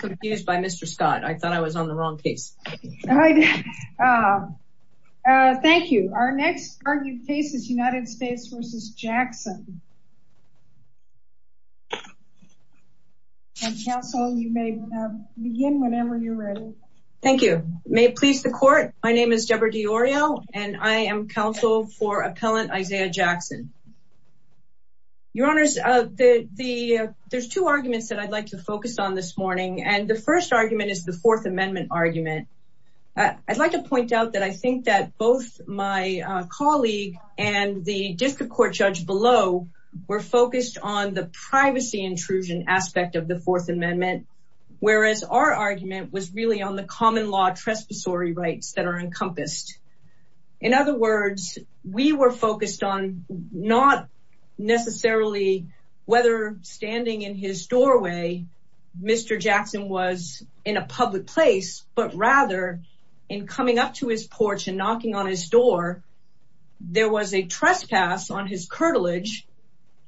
confused by Mr. Scott. I thought I was on the wrong case. Thank you. Our next argued case is United States v. Jackson. And counsel, you may begin whenever you're ready. Thank you. May it please the court. My name is Deborah DiOrio and I am counsel for appellant Isaiah Jackson. Your honors, there's two arguments that I'd like to focus on this morning. And the first argument is the fourth amendment argument. I'd like to point out that I think that both my colleague and the district court judge below were focused on the privacy intrusion aspect of the fourth amendment, whereas our argument was really on the common law trespassory rights that are encompassed. In other words, we were focused on not necessarily whether standing in his doorway, Mr. Jackson was in a public place, but rather in coming up to his porch and knocking on his door, there was a trespass on his curtilage.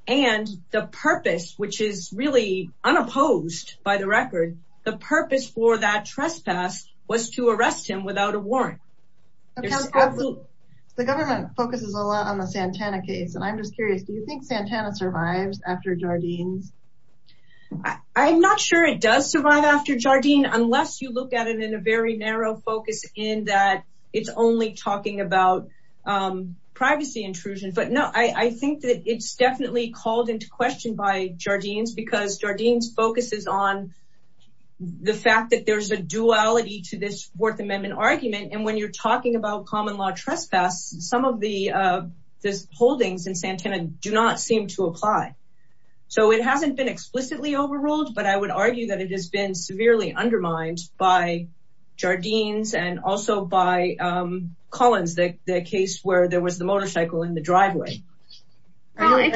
And the purpose, which is really unopposed by the record, the purpose for that trespass was to arrest him without a warrant. The government focuses a lot on the Santana case. And I'm just curious, do you think Santana survives after Jardines? I'm not sure it does survive after Jardines, unless you look at it in a very narrow focus in that it's only talking about privacy intrusion. But no, I think that it's definitely called into question by Jardines because Jardines focuses on the fact that there's a duality to this fourth amendment argument. And when you're talking about common law trespass, some of the holdings in Santana do not seem to apply. So it hasn't been explicitly overruled, but I would argue that it has been severely undermined by Jardines and also by Collins, the case where there was the motorcycle in the driveway. I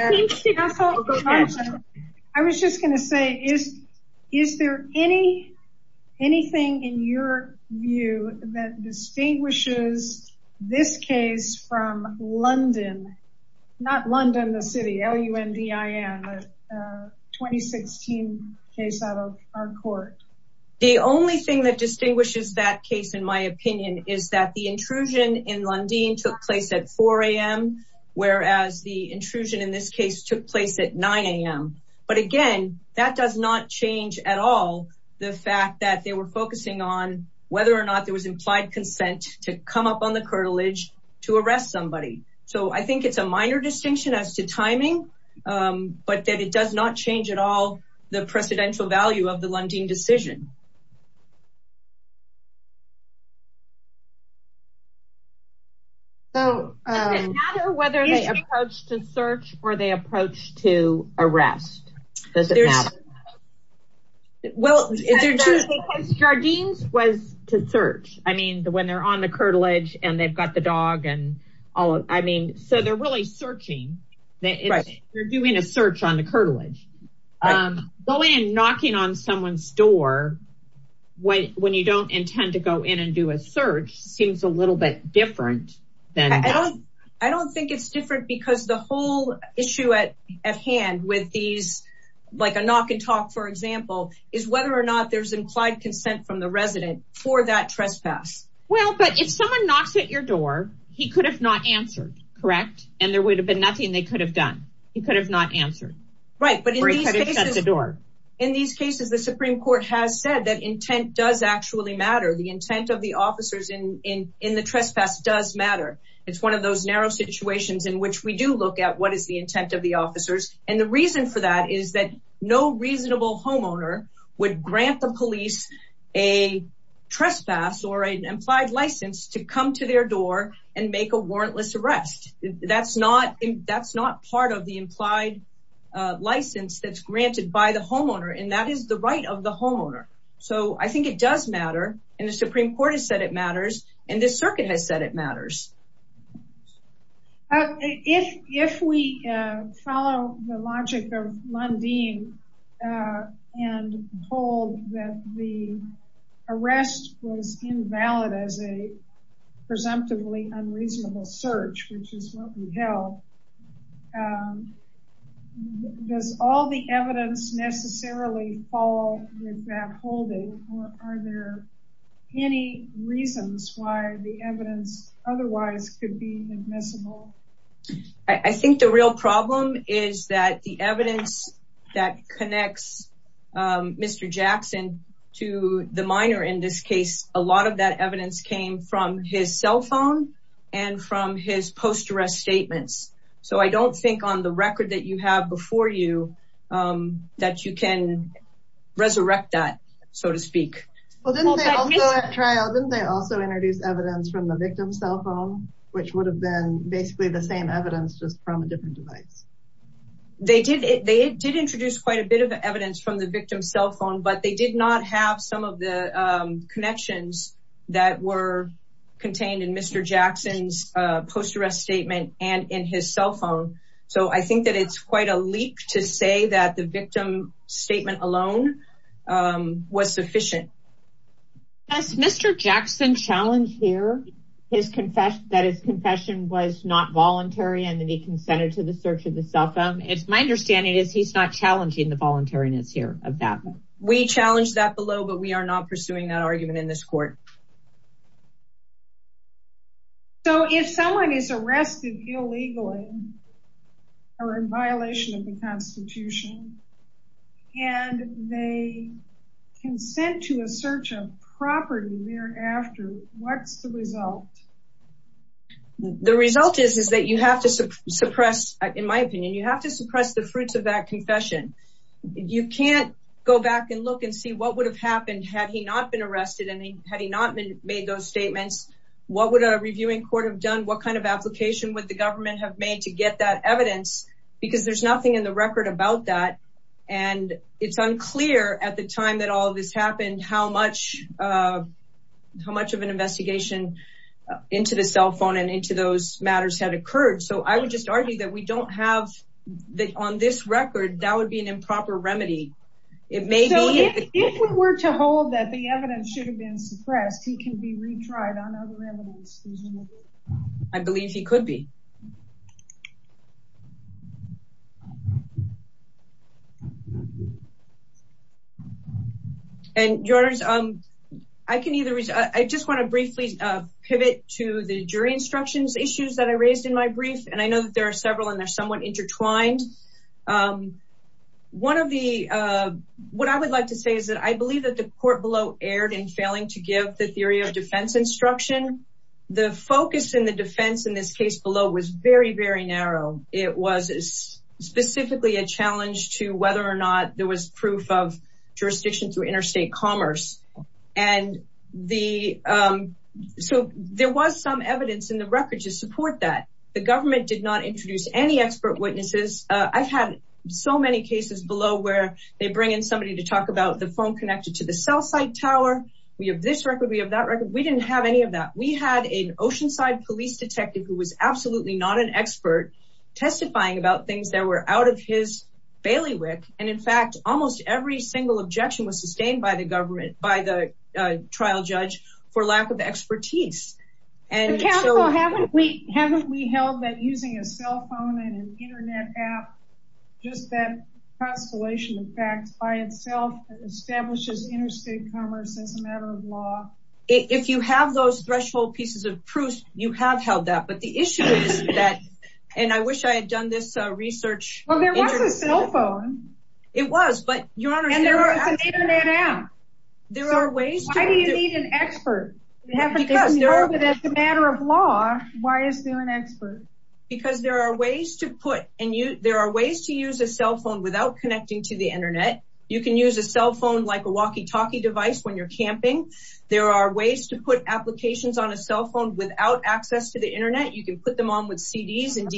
was just going to say, is there anything in your view that distinguishes this case from London? Not London, the city, L-U-N-D-I-N, the 2016 case out of our court. The only thing that distinguishes that case, in my opinion, is that the intrusion in Lundin took place at 4am, whereas the intrusion in this took place at 9am. But again, that does not change at all the fact that they were focusing on whether or not there was implied consent to come up on the curtilage to arrest somebody. So I think it's a minor distinction as to timing, but that it does not change at all the precedential value of the Lundin decision. Does it matter whether they approach to search or they approach to arrest? Jardines was to search. I mean, when they're on the curtilage and they've got the dog and all, I mean, so they're really searching. They're doing a search on the curtilage. Going and knocking on someone's door when you don't intend to go in and do a search seems a little bit different. I don't think it's different because the whole issue at hand with these, like a knock and talk, for example, is whether or not there's implied consent from the resident for that trespass. Well, but if someone knocks at your door, he could have not answered, correct? And there would have been nothing they could have done. He could have not answered. Right. But in these cases, the Supreme Court has said that intent does actually matter. The intent of the officers in the trespass does matter. It's one of those narrow situations in which we do look at what is the intent of the officers. And the reason for that is that no reasonable homeowner would grant the police a trespass or an implied license to come to their door and make a warrantless arrest. That's not part of the implied license that's granted by the homeowner. And that is the right of the homeowner. So I think it does matter. And the Supreme Court has said it matters. And this circuit has said it matters. If we follow the logic of Lundin and hold that the arrest was held, does all the evidence necessarily fall with that holding? Or are there any reasons why the evidence otherwise could be admissible? I think the real problem is that the evidence that connects Mr. Jackson to the minor in this case, a lot of that evidence came from his cell phone and from his post-arrest statements. So I don't think on the record that you have before you that you can resurrect that, so to speak. Well, didn't they also at trial, didn't they also introduce evidence from the victim's cell phone, which would have been basically the same evidence just from a different device? They did. They did introduce quite a bit of evidence from the post-arrest statement and in his cell phone. So I think that it's quite a leak to say that the victim statement alone was sufficient. Has Mr. Jackson challenged here that his confession was not voluntary and that he consented to the search of the cell phone? My understanding is he's not challenging the voluntariness here of that. We challenged that below, but we are not pursuing that argument in this court. So if someone is arrested illegally or in violation of the constitution and they consent to a search of property thereafter, what's the result? The result is that you have to suppress, in my opinion, you have to suppress the fruits of that had he not made those statements, what would a reviewing court have done? What kind of application would the government have made to get that evidence? Because there's nothing in the record about that. And it's unclear at the time that all of this happened, how much of an investigation into the cell phone and into those matters had occurred. So I would just argue that we don't have on this record, that would be an improper remedy. If we were to hold that the evidence should have been suppressed, he can be retried on other evidence. I believe he could be. And I just want to briefly pivot to the jury instructions issues that I raised in my brief. And I know that there are several and they're somewhat intertwined. What I would like to say is that I believe that the court below erred in failing to give the theory of defense instruction. The focus in the defense in this case below was very, very narrow. It was specifically a challenge to whether or not there was proof of jurisdiction to interstate commerce. And so there was some evidence in the record to support that. The government did not introduce any expert witnesses. I've had so many cases below where they bring in somebody to talk about the phone connected to the cell site tower. We have this record, we have that record. We didn't have any of that. We had an Oceanside police detective who was absolutely not an expert testifying about things that were out of his bailiwick. And in fact, almost every single objection was sustained by the government, by the trial judge for lack of expertise. And haven't we held that using a cell phone and an internet app, just that constellation of facts by itself establishes interstate commerce as a matter of law? If you have those threshold pieces of proof, you have held that. But the issue is that, and I wish I had done this research. Well, there was a cell phone. It was, but your honor- And there was an internet app. There are ways to- Why do you need an expert? Because there are- But as a matter of law, why is there an expert? Because there are ways to put, and there are ways to use a cell phone without connecting to the internet. You can use a cell phone like a walkie talkie device when you're camping. There are ways to put applications on a cell phone without access to the internet. You can put them on with CDs and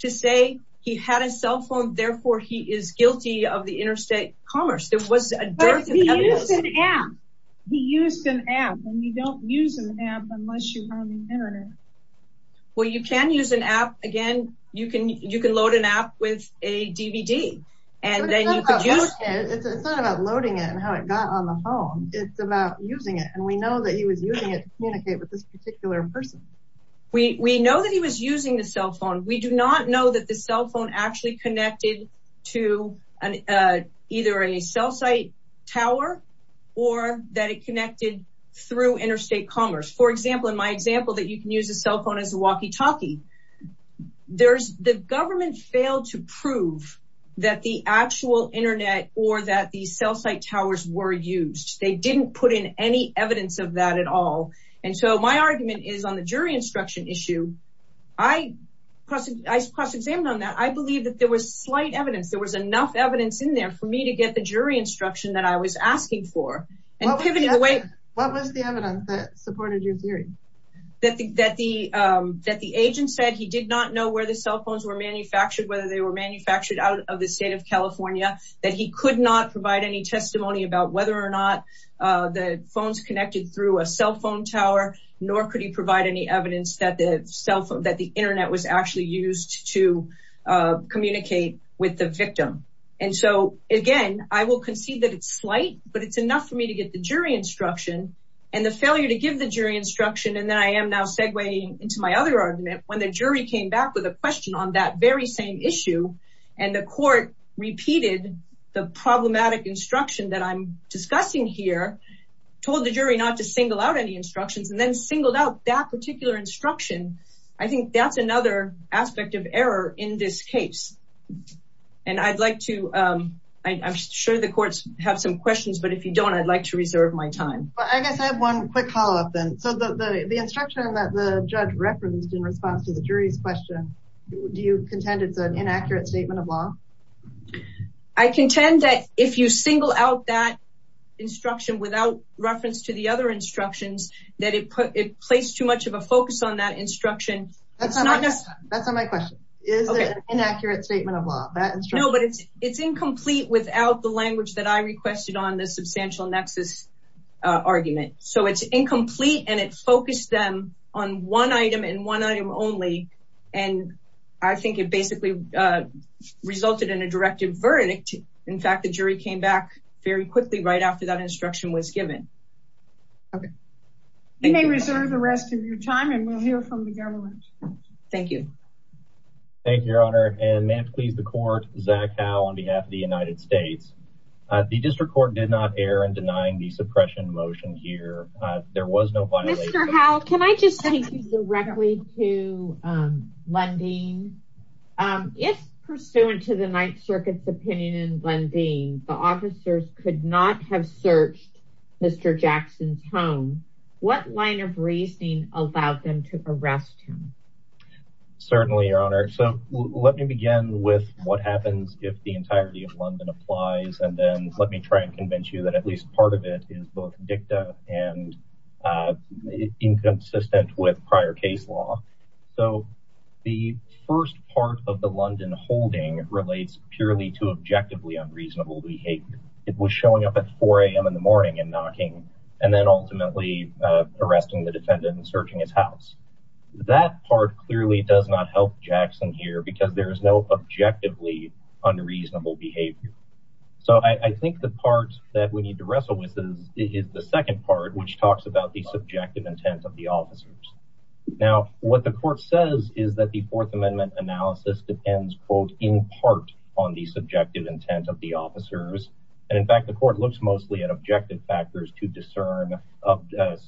to say he had a cell phone, therefore he is guilty of the interstate commerce. There was a- But he used an app. He used an app and you don't use an app unless you're on the internet. Well, you can use an app. Again, you can load an app with a DVD and then you could use- It's not about loading it and how it got on the home. It's about using it. And we know that he was using it to communicate with this particular person. We know that he was using the cell phone. We do not know that the cell phone actually connected to either a cell site tower or that it connected through interstate commerce. For example, in my example that you can use a cell phone as a walkie talkie, the government failed to prove that the actual internet or that the cell site towers were used. They didn't put in any evidence of that at all. And so my argument is on the jury instruction issue, I cross-examined on that. I believe that there was slight evidence. There was enough evidence in there for me to get the jury instruction that I was asking for and pivoting away- What was the evidence that supported your theory? That the agent said he did not know where the cell phones were manufactured, whether they were manufactured out of the state of California, that he could not provide any testimony about whether or not the phones connected through a cell phone tower, nor could he provide any evidence that the cell phone, that the internet was actually used to communicate with the victim. And so again, I will concede that it's slight, but it's enough for me to get the jury instruction and the failure to give the jury instruction. And then I am now segwaying into my other argument when the jury came back with a question on that very same issue and the court repeated the discussion here, told the jury not to single out any instructions and then singled out that particular instruction. I think that's another aspect of error in this case. And I'd like to, I'm sure the courts have some questions, but if you don't, I'd like to reserve my time. I guess I have one quick follow-up then. So the instruction that the judge referenced in response to the jury's question, do you contend it's an inaccurate statement of law? I contend that if you single out that instruction without reference to the other instructions, that it placed too much of a focus on that instruction. That's not my question. Is it an inaccurate statement of law? No, but it's incomplete without the language that I requested on the substantial nexus argument. So it's incomplete and it focused them on one item and one item only. And I think it basically resulted in a directive verdict. In fact, the jury came back very quickly right after that instruction was given. Okay. You may reserve the rest of your time and we'll hear from the government. Thank you. Thank you, Your Honor. And may it please the court, Zach Howe on behalf of the United States. The district court did not err in denying the suppression motion here. There was no violation. Can I just take you directly to Lundeen? If pursuant to the Ninth Circuit's opinion in Lundeen, the officers could not have searched Mr. Jackson's home, what line of reasoning allowed them to arrest him? Certainly, Your Honor. So let me begin with what happens if the entirety of Lunden applies. And it's inconsistent with prior case law. So the first part of the Lundeen holding relates purely to objectively unreasonable behavior. It was showing up at 4 a.m. in the morning and knocking, and then ultimately arresting the defendant and searching his house. That part clearly does not help Jackson here because there is no objectively unreasonable behavior. So I think the part that we need to wrestle with is the second part, which talks about the subjective intent of the officers. Now, what the court says is that the Fourth Amendment analysis depends, quote, in part on the subjective intent of the officers. And in fact, the court looks mostly at objective factors to discern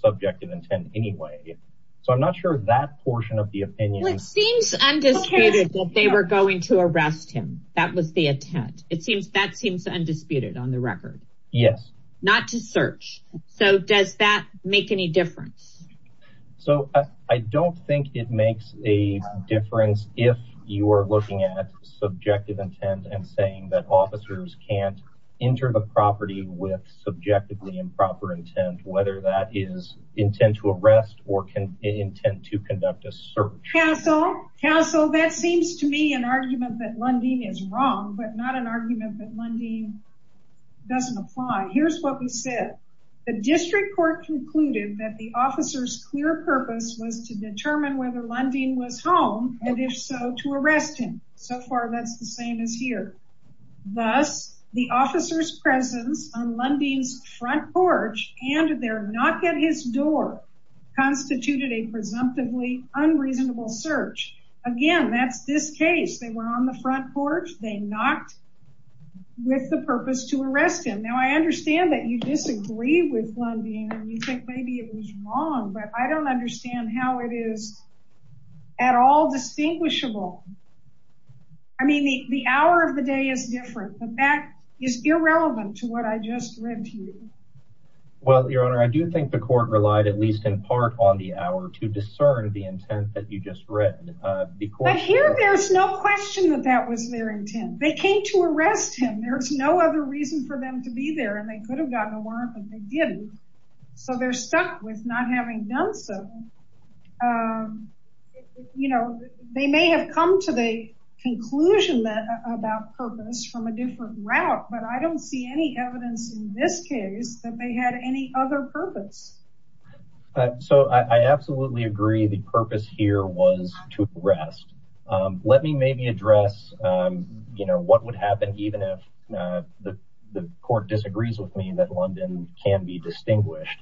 subjective intent anyway. So I'm not sure that portion of the opinion seems undisputed that they were going to arrest him. That was the intent. That seems undisputed on the record. Yes. Not to search. So does that make any difference? So I don't think it makes a difference if you are looking at subjective intent and saying that officers can't enter the property with subjectively improper intent, whether that is intent to arrest or intent to conduct a search. Counsel, that seems to me an argument that Lundeen is wrong, but not an argument that Lundeen doesn't apply. Here's what we said. The district court concluded that the officer's clear purpose was to determine whether Lundeen was home and if so, to arrest him. So far, that's the same as here. Thus, the officer's presence on Lundeen's front porch and their knock at his door constituted a presumptively unreasonable search. Again, that's this case. They were on the front porch. They knocked with the purpose to arrest him. Now, I understand that you disagree with Lundeen and you think maybe it was wrong, but I don't understand how it is at all distinguishable. I mean, the hour of the day is different, but that is irrelevant to what I just read to you. Well, your honor, I do think the court relied at least in part on the hour to discern the intent that you just read. But here, there's no question that that was their intent. They came to arrest him. There's no other reason for them to be there, and they could have gotten a warrant, but they didn't. So they're stuck with not having done so. You know, they may have come to the conclusion that about purpose from a different route, but I don't see any evidence in this case that they had any other purpose. So I absolutely agree the purpose here was to arrest. Let me maybe address, you know, what would happen even if the court disagrees with me that Lundeen can be distinguished.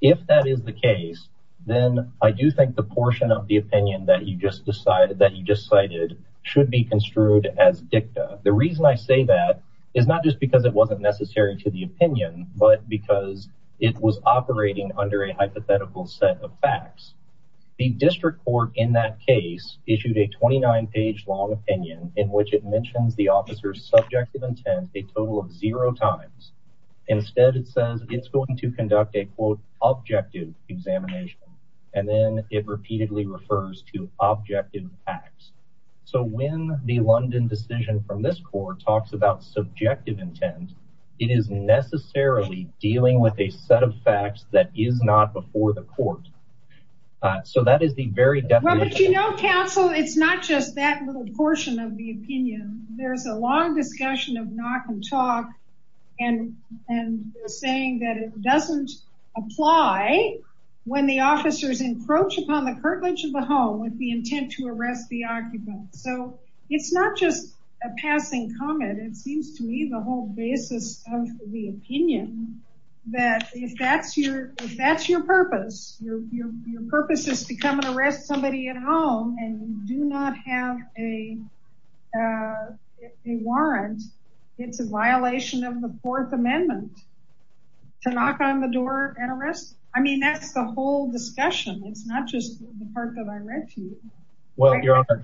If that is the case, then I do think the portion of the opinion that you just cited should be construed as dicta. The reason I say that is not just because it wasn't necessary to the opinion, but because it was operating under a hypothetical set of facts. The district court in that case issued a 29-page long opinion in which it mentions the officer's subjective intent a total of zero times. Instead, it says it's going to conduct a quote objective examination, and then it repeatedly refers to objective facts. So when the Lundeen decision from this court talks about subjective intent, it is necessarily dealing with a set of facts that is not before the court. So that is the very definition. But you know, counsel, it's not just that little portion of the opinion. There's a long discussion of knock and talk and saying that it doesn't apply when the officers encroach upon the curtilage of the home with the intent to arrest the occupant. So it's not just a passing comment. It seems to me the whole basis of the opinion that if that's your purpose, your purpose is to come and arrest somebody at home and do not have a warrant, it's a violation of the Fourth Amendment to knock on the door and arrest. I mean, that's the whole discussion. It's not just the part that I read to you. Your Honor,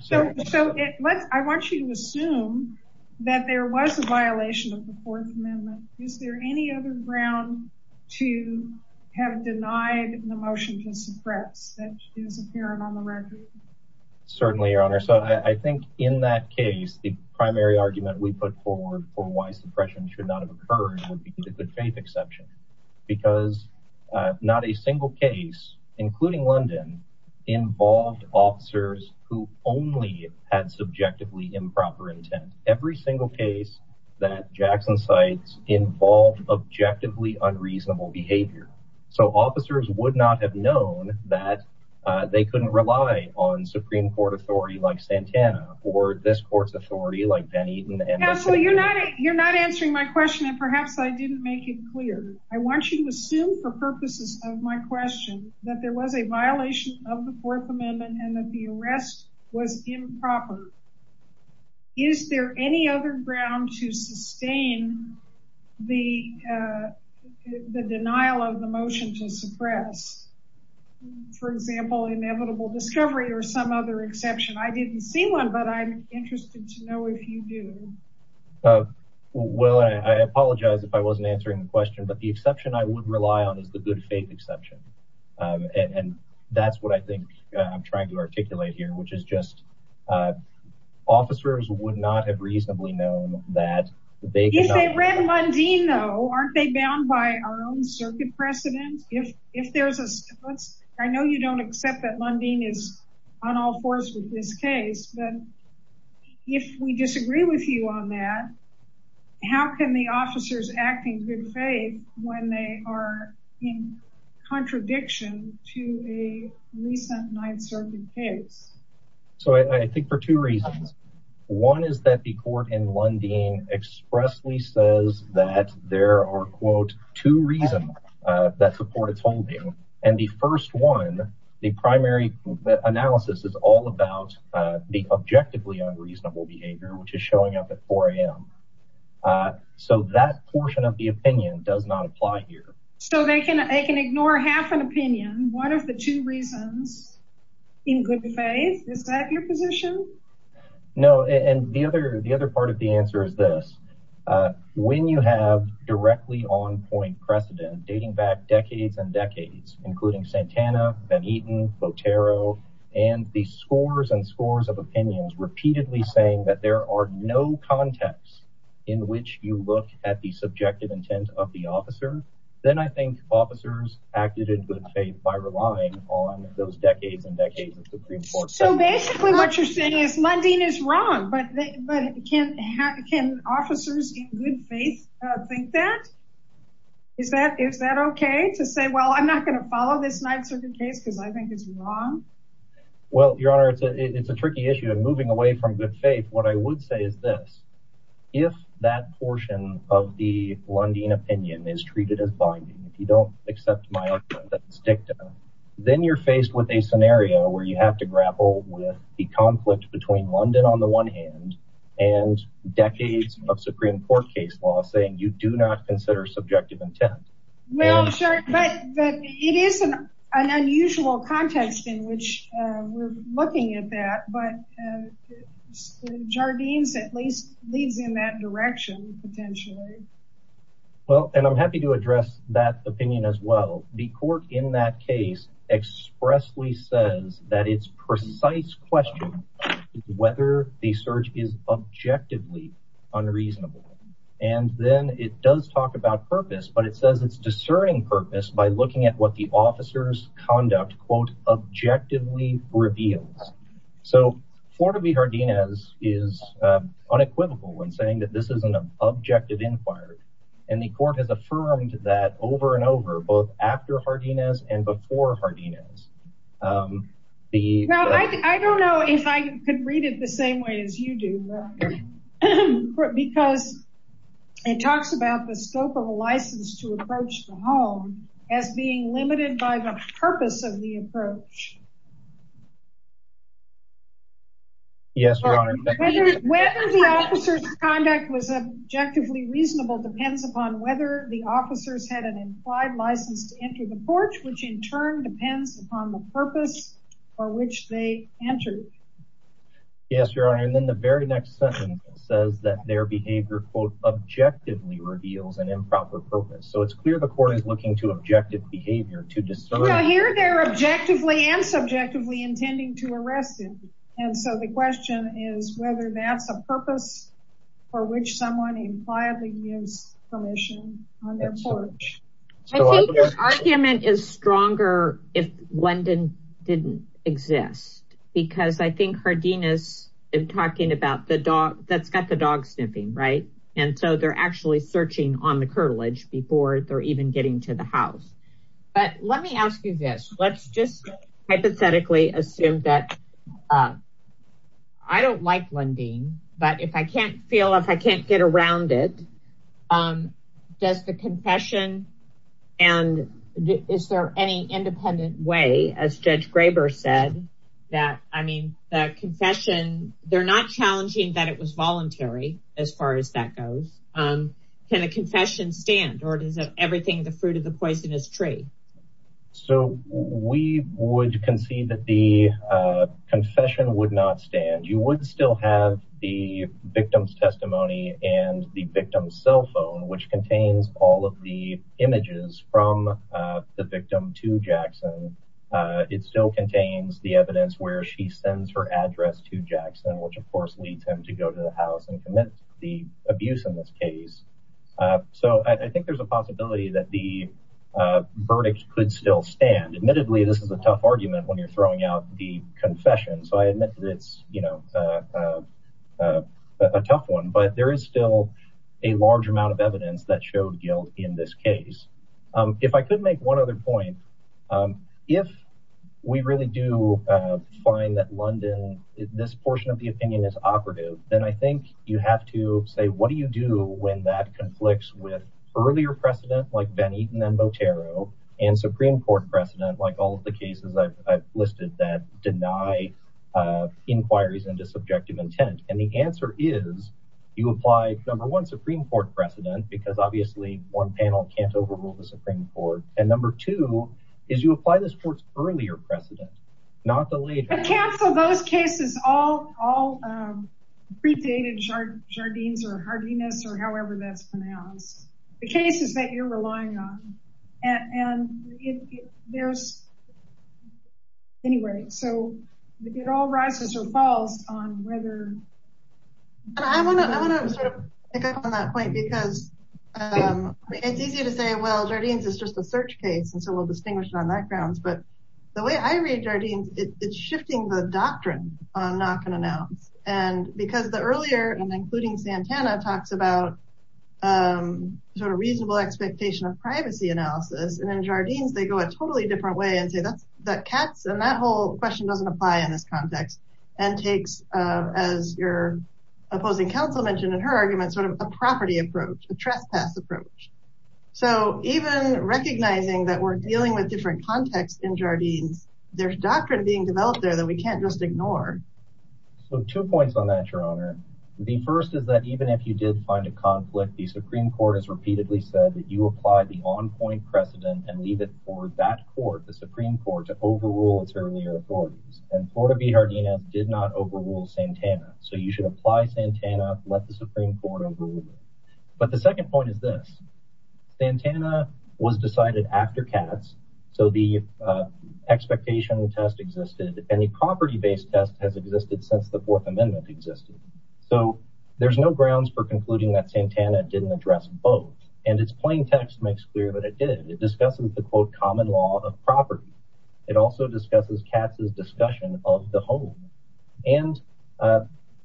I want you to assume that there was a violation of the Fourth Amendment. Is there any other ground to have denied the motion to suppress that is apparent on the record? Certainly, Your Honor. So I think in that case, the primary argument we put forward for why suppression should not have occurred would be the good faith exception, because not a single case, including London, involved officers who only had subjectively improper intent. Every single case that Jackson cites involved objectively unreasonable behavior. So officers would not have known that they couldn't rely on Supreme Court authority like Santana or this court's authority like Ben Eaton. Counselor, you're not answering my question, and perhaps I didn't make it clear. I want you to assume for purposes of my question that there was a violation of the Fourth Amendment and that the arrest was improper. Is there any other ground to sustain the denial of the motion to suppress, for example, inevitable discovery or some other thing? Well, I apologize if I wasn't answering the question, but the exception I would rely on is the good faith exception. And that's what I think I'm trying to articulate here, which is just officers would not have reasonably known that. If they read Lundin, though, aren't they bound by our own circuit precedent? I know you don't accept that Lundin is on all fours with this case, but if we disagree with you on that, how can the officers act in good faith when they are in contradiction to a recent Ninth Circuit case? So I think for two reasons. One is that the court in Lundin expressly says that there are, quote, two reasons that support its holding. And the first one, the primary analysis is all about the objectively unreasonable behavior, which is showing up at 4 a.m. So that portion of the opinion does not apply here. So they can ignore half an opinion. What are the two reasons in good faith? Is that your position? No. And the other part of the answer is this. When you have directly on point precedent dating back decades and decades, including Santana, Ben Eaton, Botero, and the scores and scores of opinions repeatedly saying that there are no contexts in which you look at the subjective intent of the officer, then I think officers acted in good faith by relying on those decades and decades of Supreme Court. So basically what you're saying is Lundin is wrong, but can officers in good faith think that? Is that okay to say, well, I'm not going to follow this Ninth Circuit case because I think it's wrong? Well, Your Honor, it's a tricky issue of moving away from good faith. What I would say is this. If that portion of the Lundin opinion is treated as binding, if you don't accept my argument, that's dicta, then you're faced with a scenario where you have to grapple with the conflict between Lundin on the one hand and decades of Supreme Court case law saying you do not consider subjective intent. Well, sure, but it is an unusual context in which we're looking at that, but Jardines at least leads in that direction potentially. Well, and I'm happy to address that opinion as well. The court in that case expressly says that it's precise question whether the search is objectively unreasonable, and then it does talk about purpose, but it says it's discerning purpose by looking at what the officer's conduct, quote, objectively reveals. So Florida v. Jardines is unequivocal in saying that this is an objective inquiry, and the court has affirmed that over and over, both after Jardines and before Jardines. Well, I don't know if I could read it the same way as you do, because it talks about the scope of a license to approach the home as being limited by the purpose of the approach. Whether the officer's conduct was objectively reasonable depends upon whether the officers had an implied license to enter the porch, which in turn depends upon the purpose for which they entered. Yes, Your Honor, and then the very next sentence says that their behavior, quote, objectively reveals an improper purpose. So it's clear the court is looking to objective behavior to discern. Well, here they're objectively and subjectively intending to arrest it, and so the question is whether that's a purpose for which someone impliedly gives permission on their porch. I think the argument is stronger if Lundin didn't exist, because I think Jardines is talking about the dog that's got the dog sniffing, right? And so they're actually searching on the curtilage before they're even getting to the house. But let me ask you this. Let's just hypothetically assume that I don't like Lundin, but if I can't feel, if I can't get around it, does the confession, and is there any independent way, as Judge Graber said, that, I mean, the confession, they're not challenging that it was voluntary, as far as that goes. Can a confession stand, or is everything the fruit of the poisonous tree? So we would concede that the confession would not stand. You would still have the victim's testimony and the victim's cell phone, which contains all of the images from the victim to Jackson. It still contains the evidence where she sends her address to Jackson, which of course leads him to go to the house and commit the abuse in this case. So I think there's a possibility that the verdict could still stand. Admittedly, this is a tough argument when throwing out the confession. So I admit that it's a tough one, but there is still a large amount of evidence that showed guilt in this case. If I could make one other point, if we really do find that Lundin, this portion of the opinion is operative, then I think you have to say, what do you do when that conflicts with earlier precedent, like Ben Eaton and Botero, and Supreme Court precedent, like all of the cases I've listed that deny inquiries into subjective intent? And the answer is, you apply, number one, Supreme Court precedent, because obviously, one panel can't overrule the Supreme Court. And number two, is you apply this court's earlier precedent, not the later. Cancel those cases, all predated Jardines or Hardiness or however that's relying on. And there's, anyway, so it all rises or falls on whether... And I want to sort of pick up on that point, because it's easy to say, well, Jardines is just a search case, and so we'll distinguish it on that grounds. But the way I read Jardines, it's shifting the doctrine on knock and announce. And because the earlier, and including Santana, talks about sort of reasonable expectation of privacy analysis, and in Jardines, they go a totally different way and say that cuts, and that whole question doesn't apply in this context, and takes, as your opposing counsel mentioned in her argument, sort of a property approach, a trespass approach. So even recognizing that we're dealing with different contexts in Jardines, there's doctrine being developed there that we can't just ignore. So two points on that, your honor. The first is that even if you did find a conflict, the Supreme Court has repeatedly said that you apply the on-point precedent and leave it for that court, the Supreme Court, to overrule its earlier authorities. And Florida v. Jardines did not overrule Santana. So you should apply Santana, let the Supreme Court overrule it. But the second point is this. Santana was decided after Katz, so the expectation test existed, and the property-based test has existed since the Fourth Amendment existed. So there's no grounds for concluding that Santana didn't address both. And its plain text makes clear that it did. It discusses the, quote, common law of property. It also discusses Katz's discussion of the home. And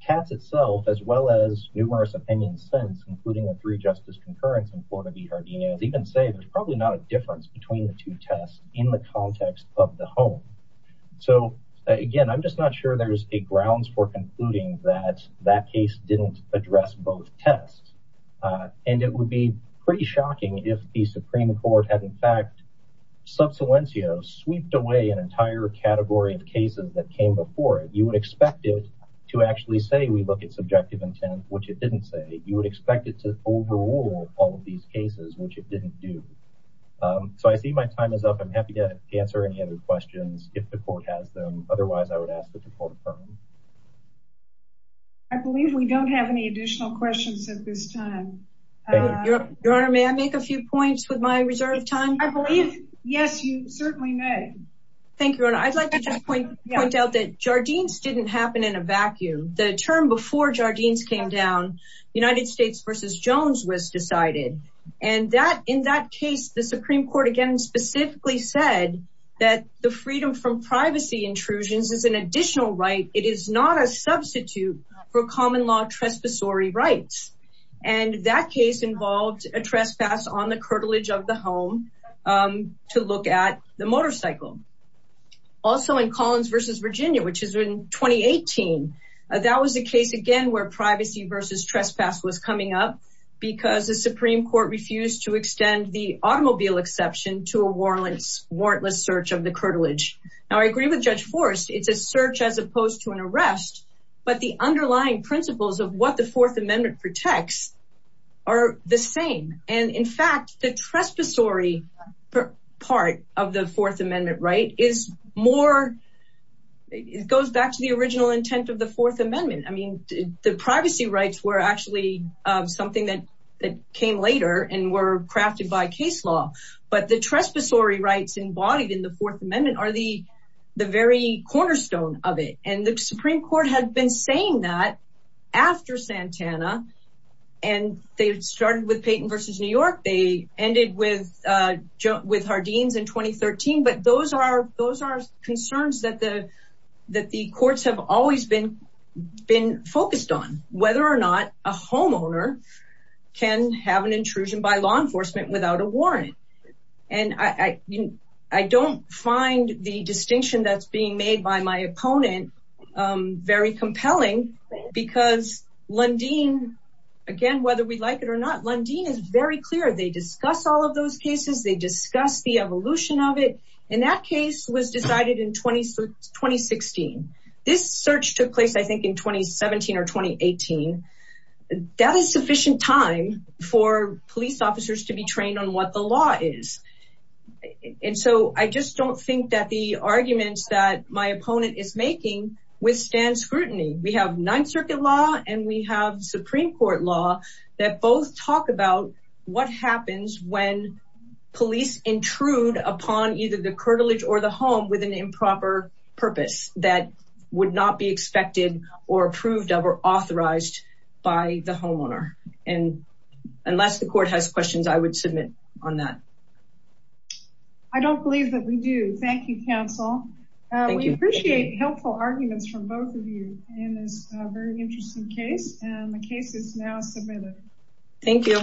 Katz itself, as well as numerous opinions since, including a three-justice concurrence in Florida v. Jardines, even say there's probably not a difference between the two tests in the case. Again, I'm just not sure there's a grounds for concluding that that case didn't address both tests. And it would be pretty shocking if the Supreme Court had, in fact, sub salientio, sweeped away an entire category of cases that came before it. You would expect it to actually say we look at subjective intent, which it didn't say. You would expect it to overrule all of these cases, which it didn't do. So I see my time is up. I'm happy to answer any other questions if the court has them. Otherwise, I would ask that the court defer. I believe we don't have any additional questions at this time. Your Honor, may I make a few points with my reserve time? I believe, yes, you certainly may. Thank you, Your Honor. I'd like to just point out that Jardines didn't happen in a vacuum. The term before Jardines came down, United States v. Jones was decided. And in that case, the Supreme Court, again, specifically said that the freedom from privacy intrusions is an additional right. It is not a substitute for common law trespassory rights. And that case involved a trespass on the curtilage of the home to look at the motorcycle. Also, in Collins v. Virginia, which is in 2018, that was a case, again, where privacy versus trespass was coming up because the Supreme Court refused to extend the automobile exception to a warrantless search of the curtilage. Now, I agree with Judge Forrest, it's a search as opposed to an arrest. But the underlying principles of what the Fourth Amendment protects are the same. And in fact, the trespassory part of the Fourth Amendment right is more, it goes back to the original intent of the Fourth Amendment. I mean, the privacy rights were actually something that came later and were crafted by case law. But the trespassory rights embodied in the Fourth Amendment are the very cornerstone of it. And the Supreme Court had been saying that after Santana. And they started with Payton v. New York. They ended with Jardines in 2013. But those are concerns that the courts have always been focused on, whether or not a homeowner can have an intrusion by law enforcement without a warrant. And I don't find the distinction that's being made by my opponent very compelling, because Lundin, again, whether we like it or not, Lundin is very clear. They discuss all of those cases, they discuss the evolution of it. And that case was decided in 2016. This search took place, I think, in 2017 or 2018. That is sufficient time for police officers to be trained on what the law is. And so I just don't think that the arguments that my opponent is making withstand scrutiny. We have Ninth Circuit law and we have Supreme Court law that both talk about what happens when police intrude upon either the curtilage or the home with an improper purpose that would not be expected or approved of or authorized by the homeowner. And unless the court has questions, I would submit on that. I don't believe that we do. Thank you, counsel. We appreciate helpful arguments from both of you in this very interesting case, and the case is now submitted. Thank you.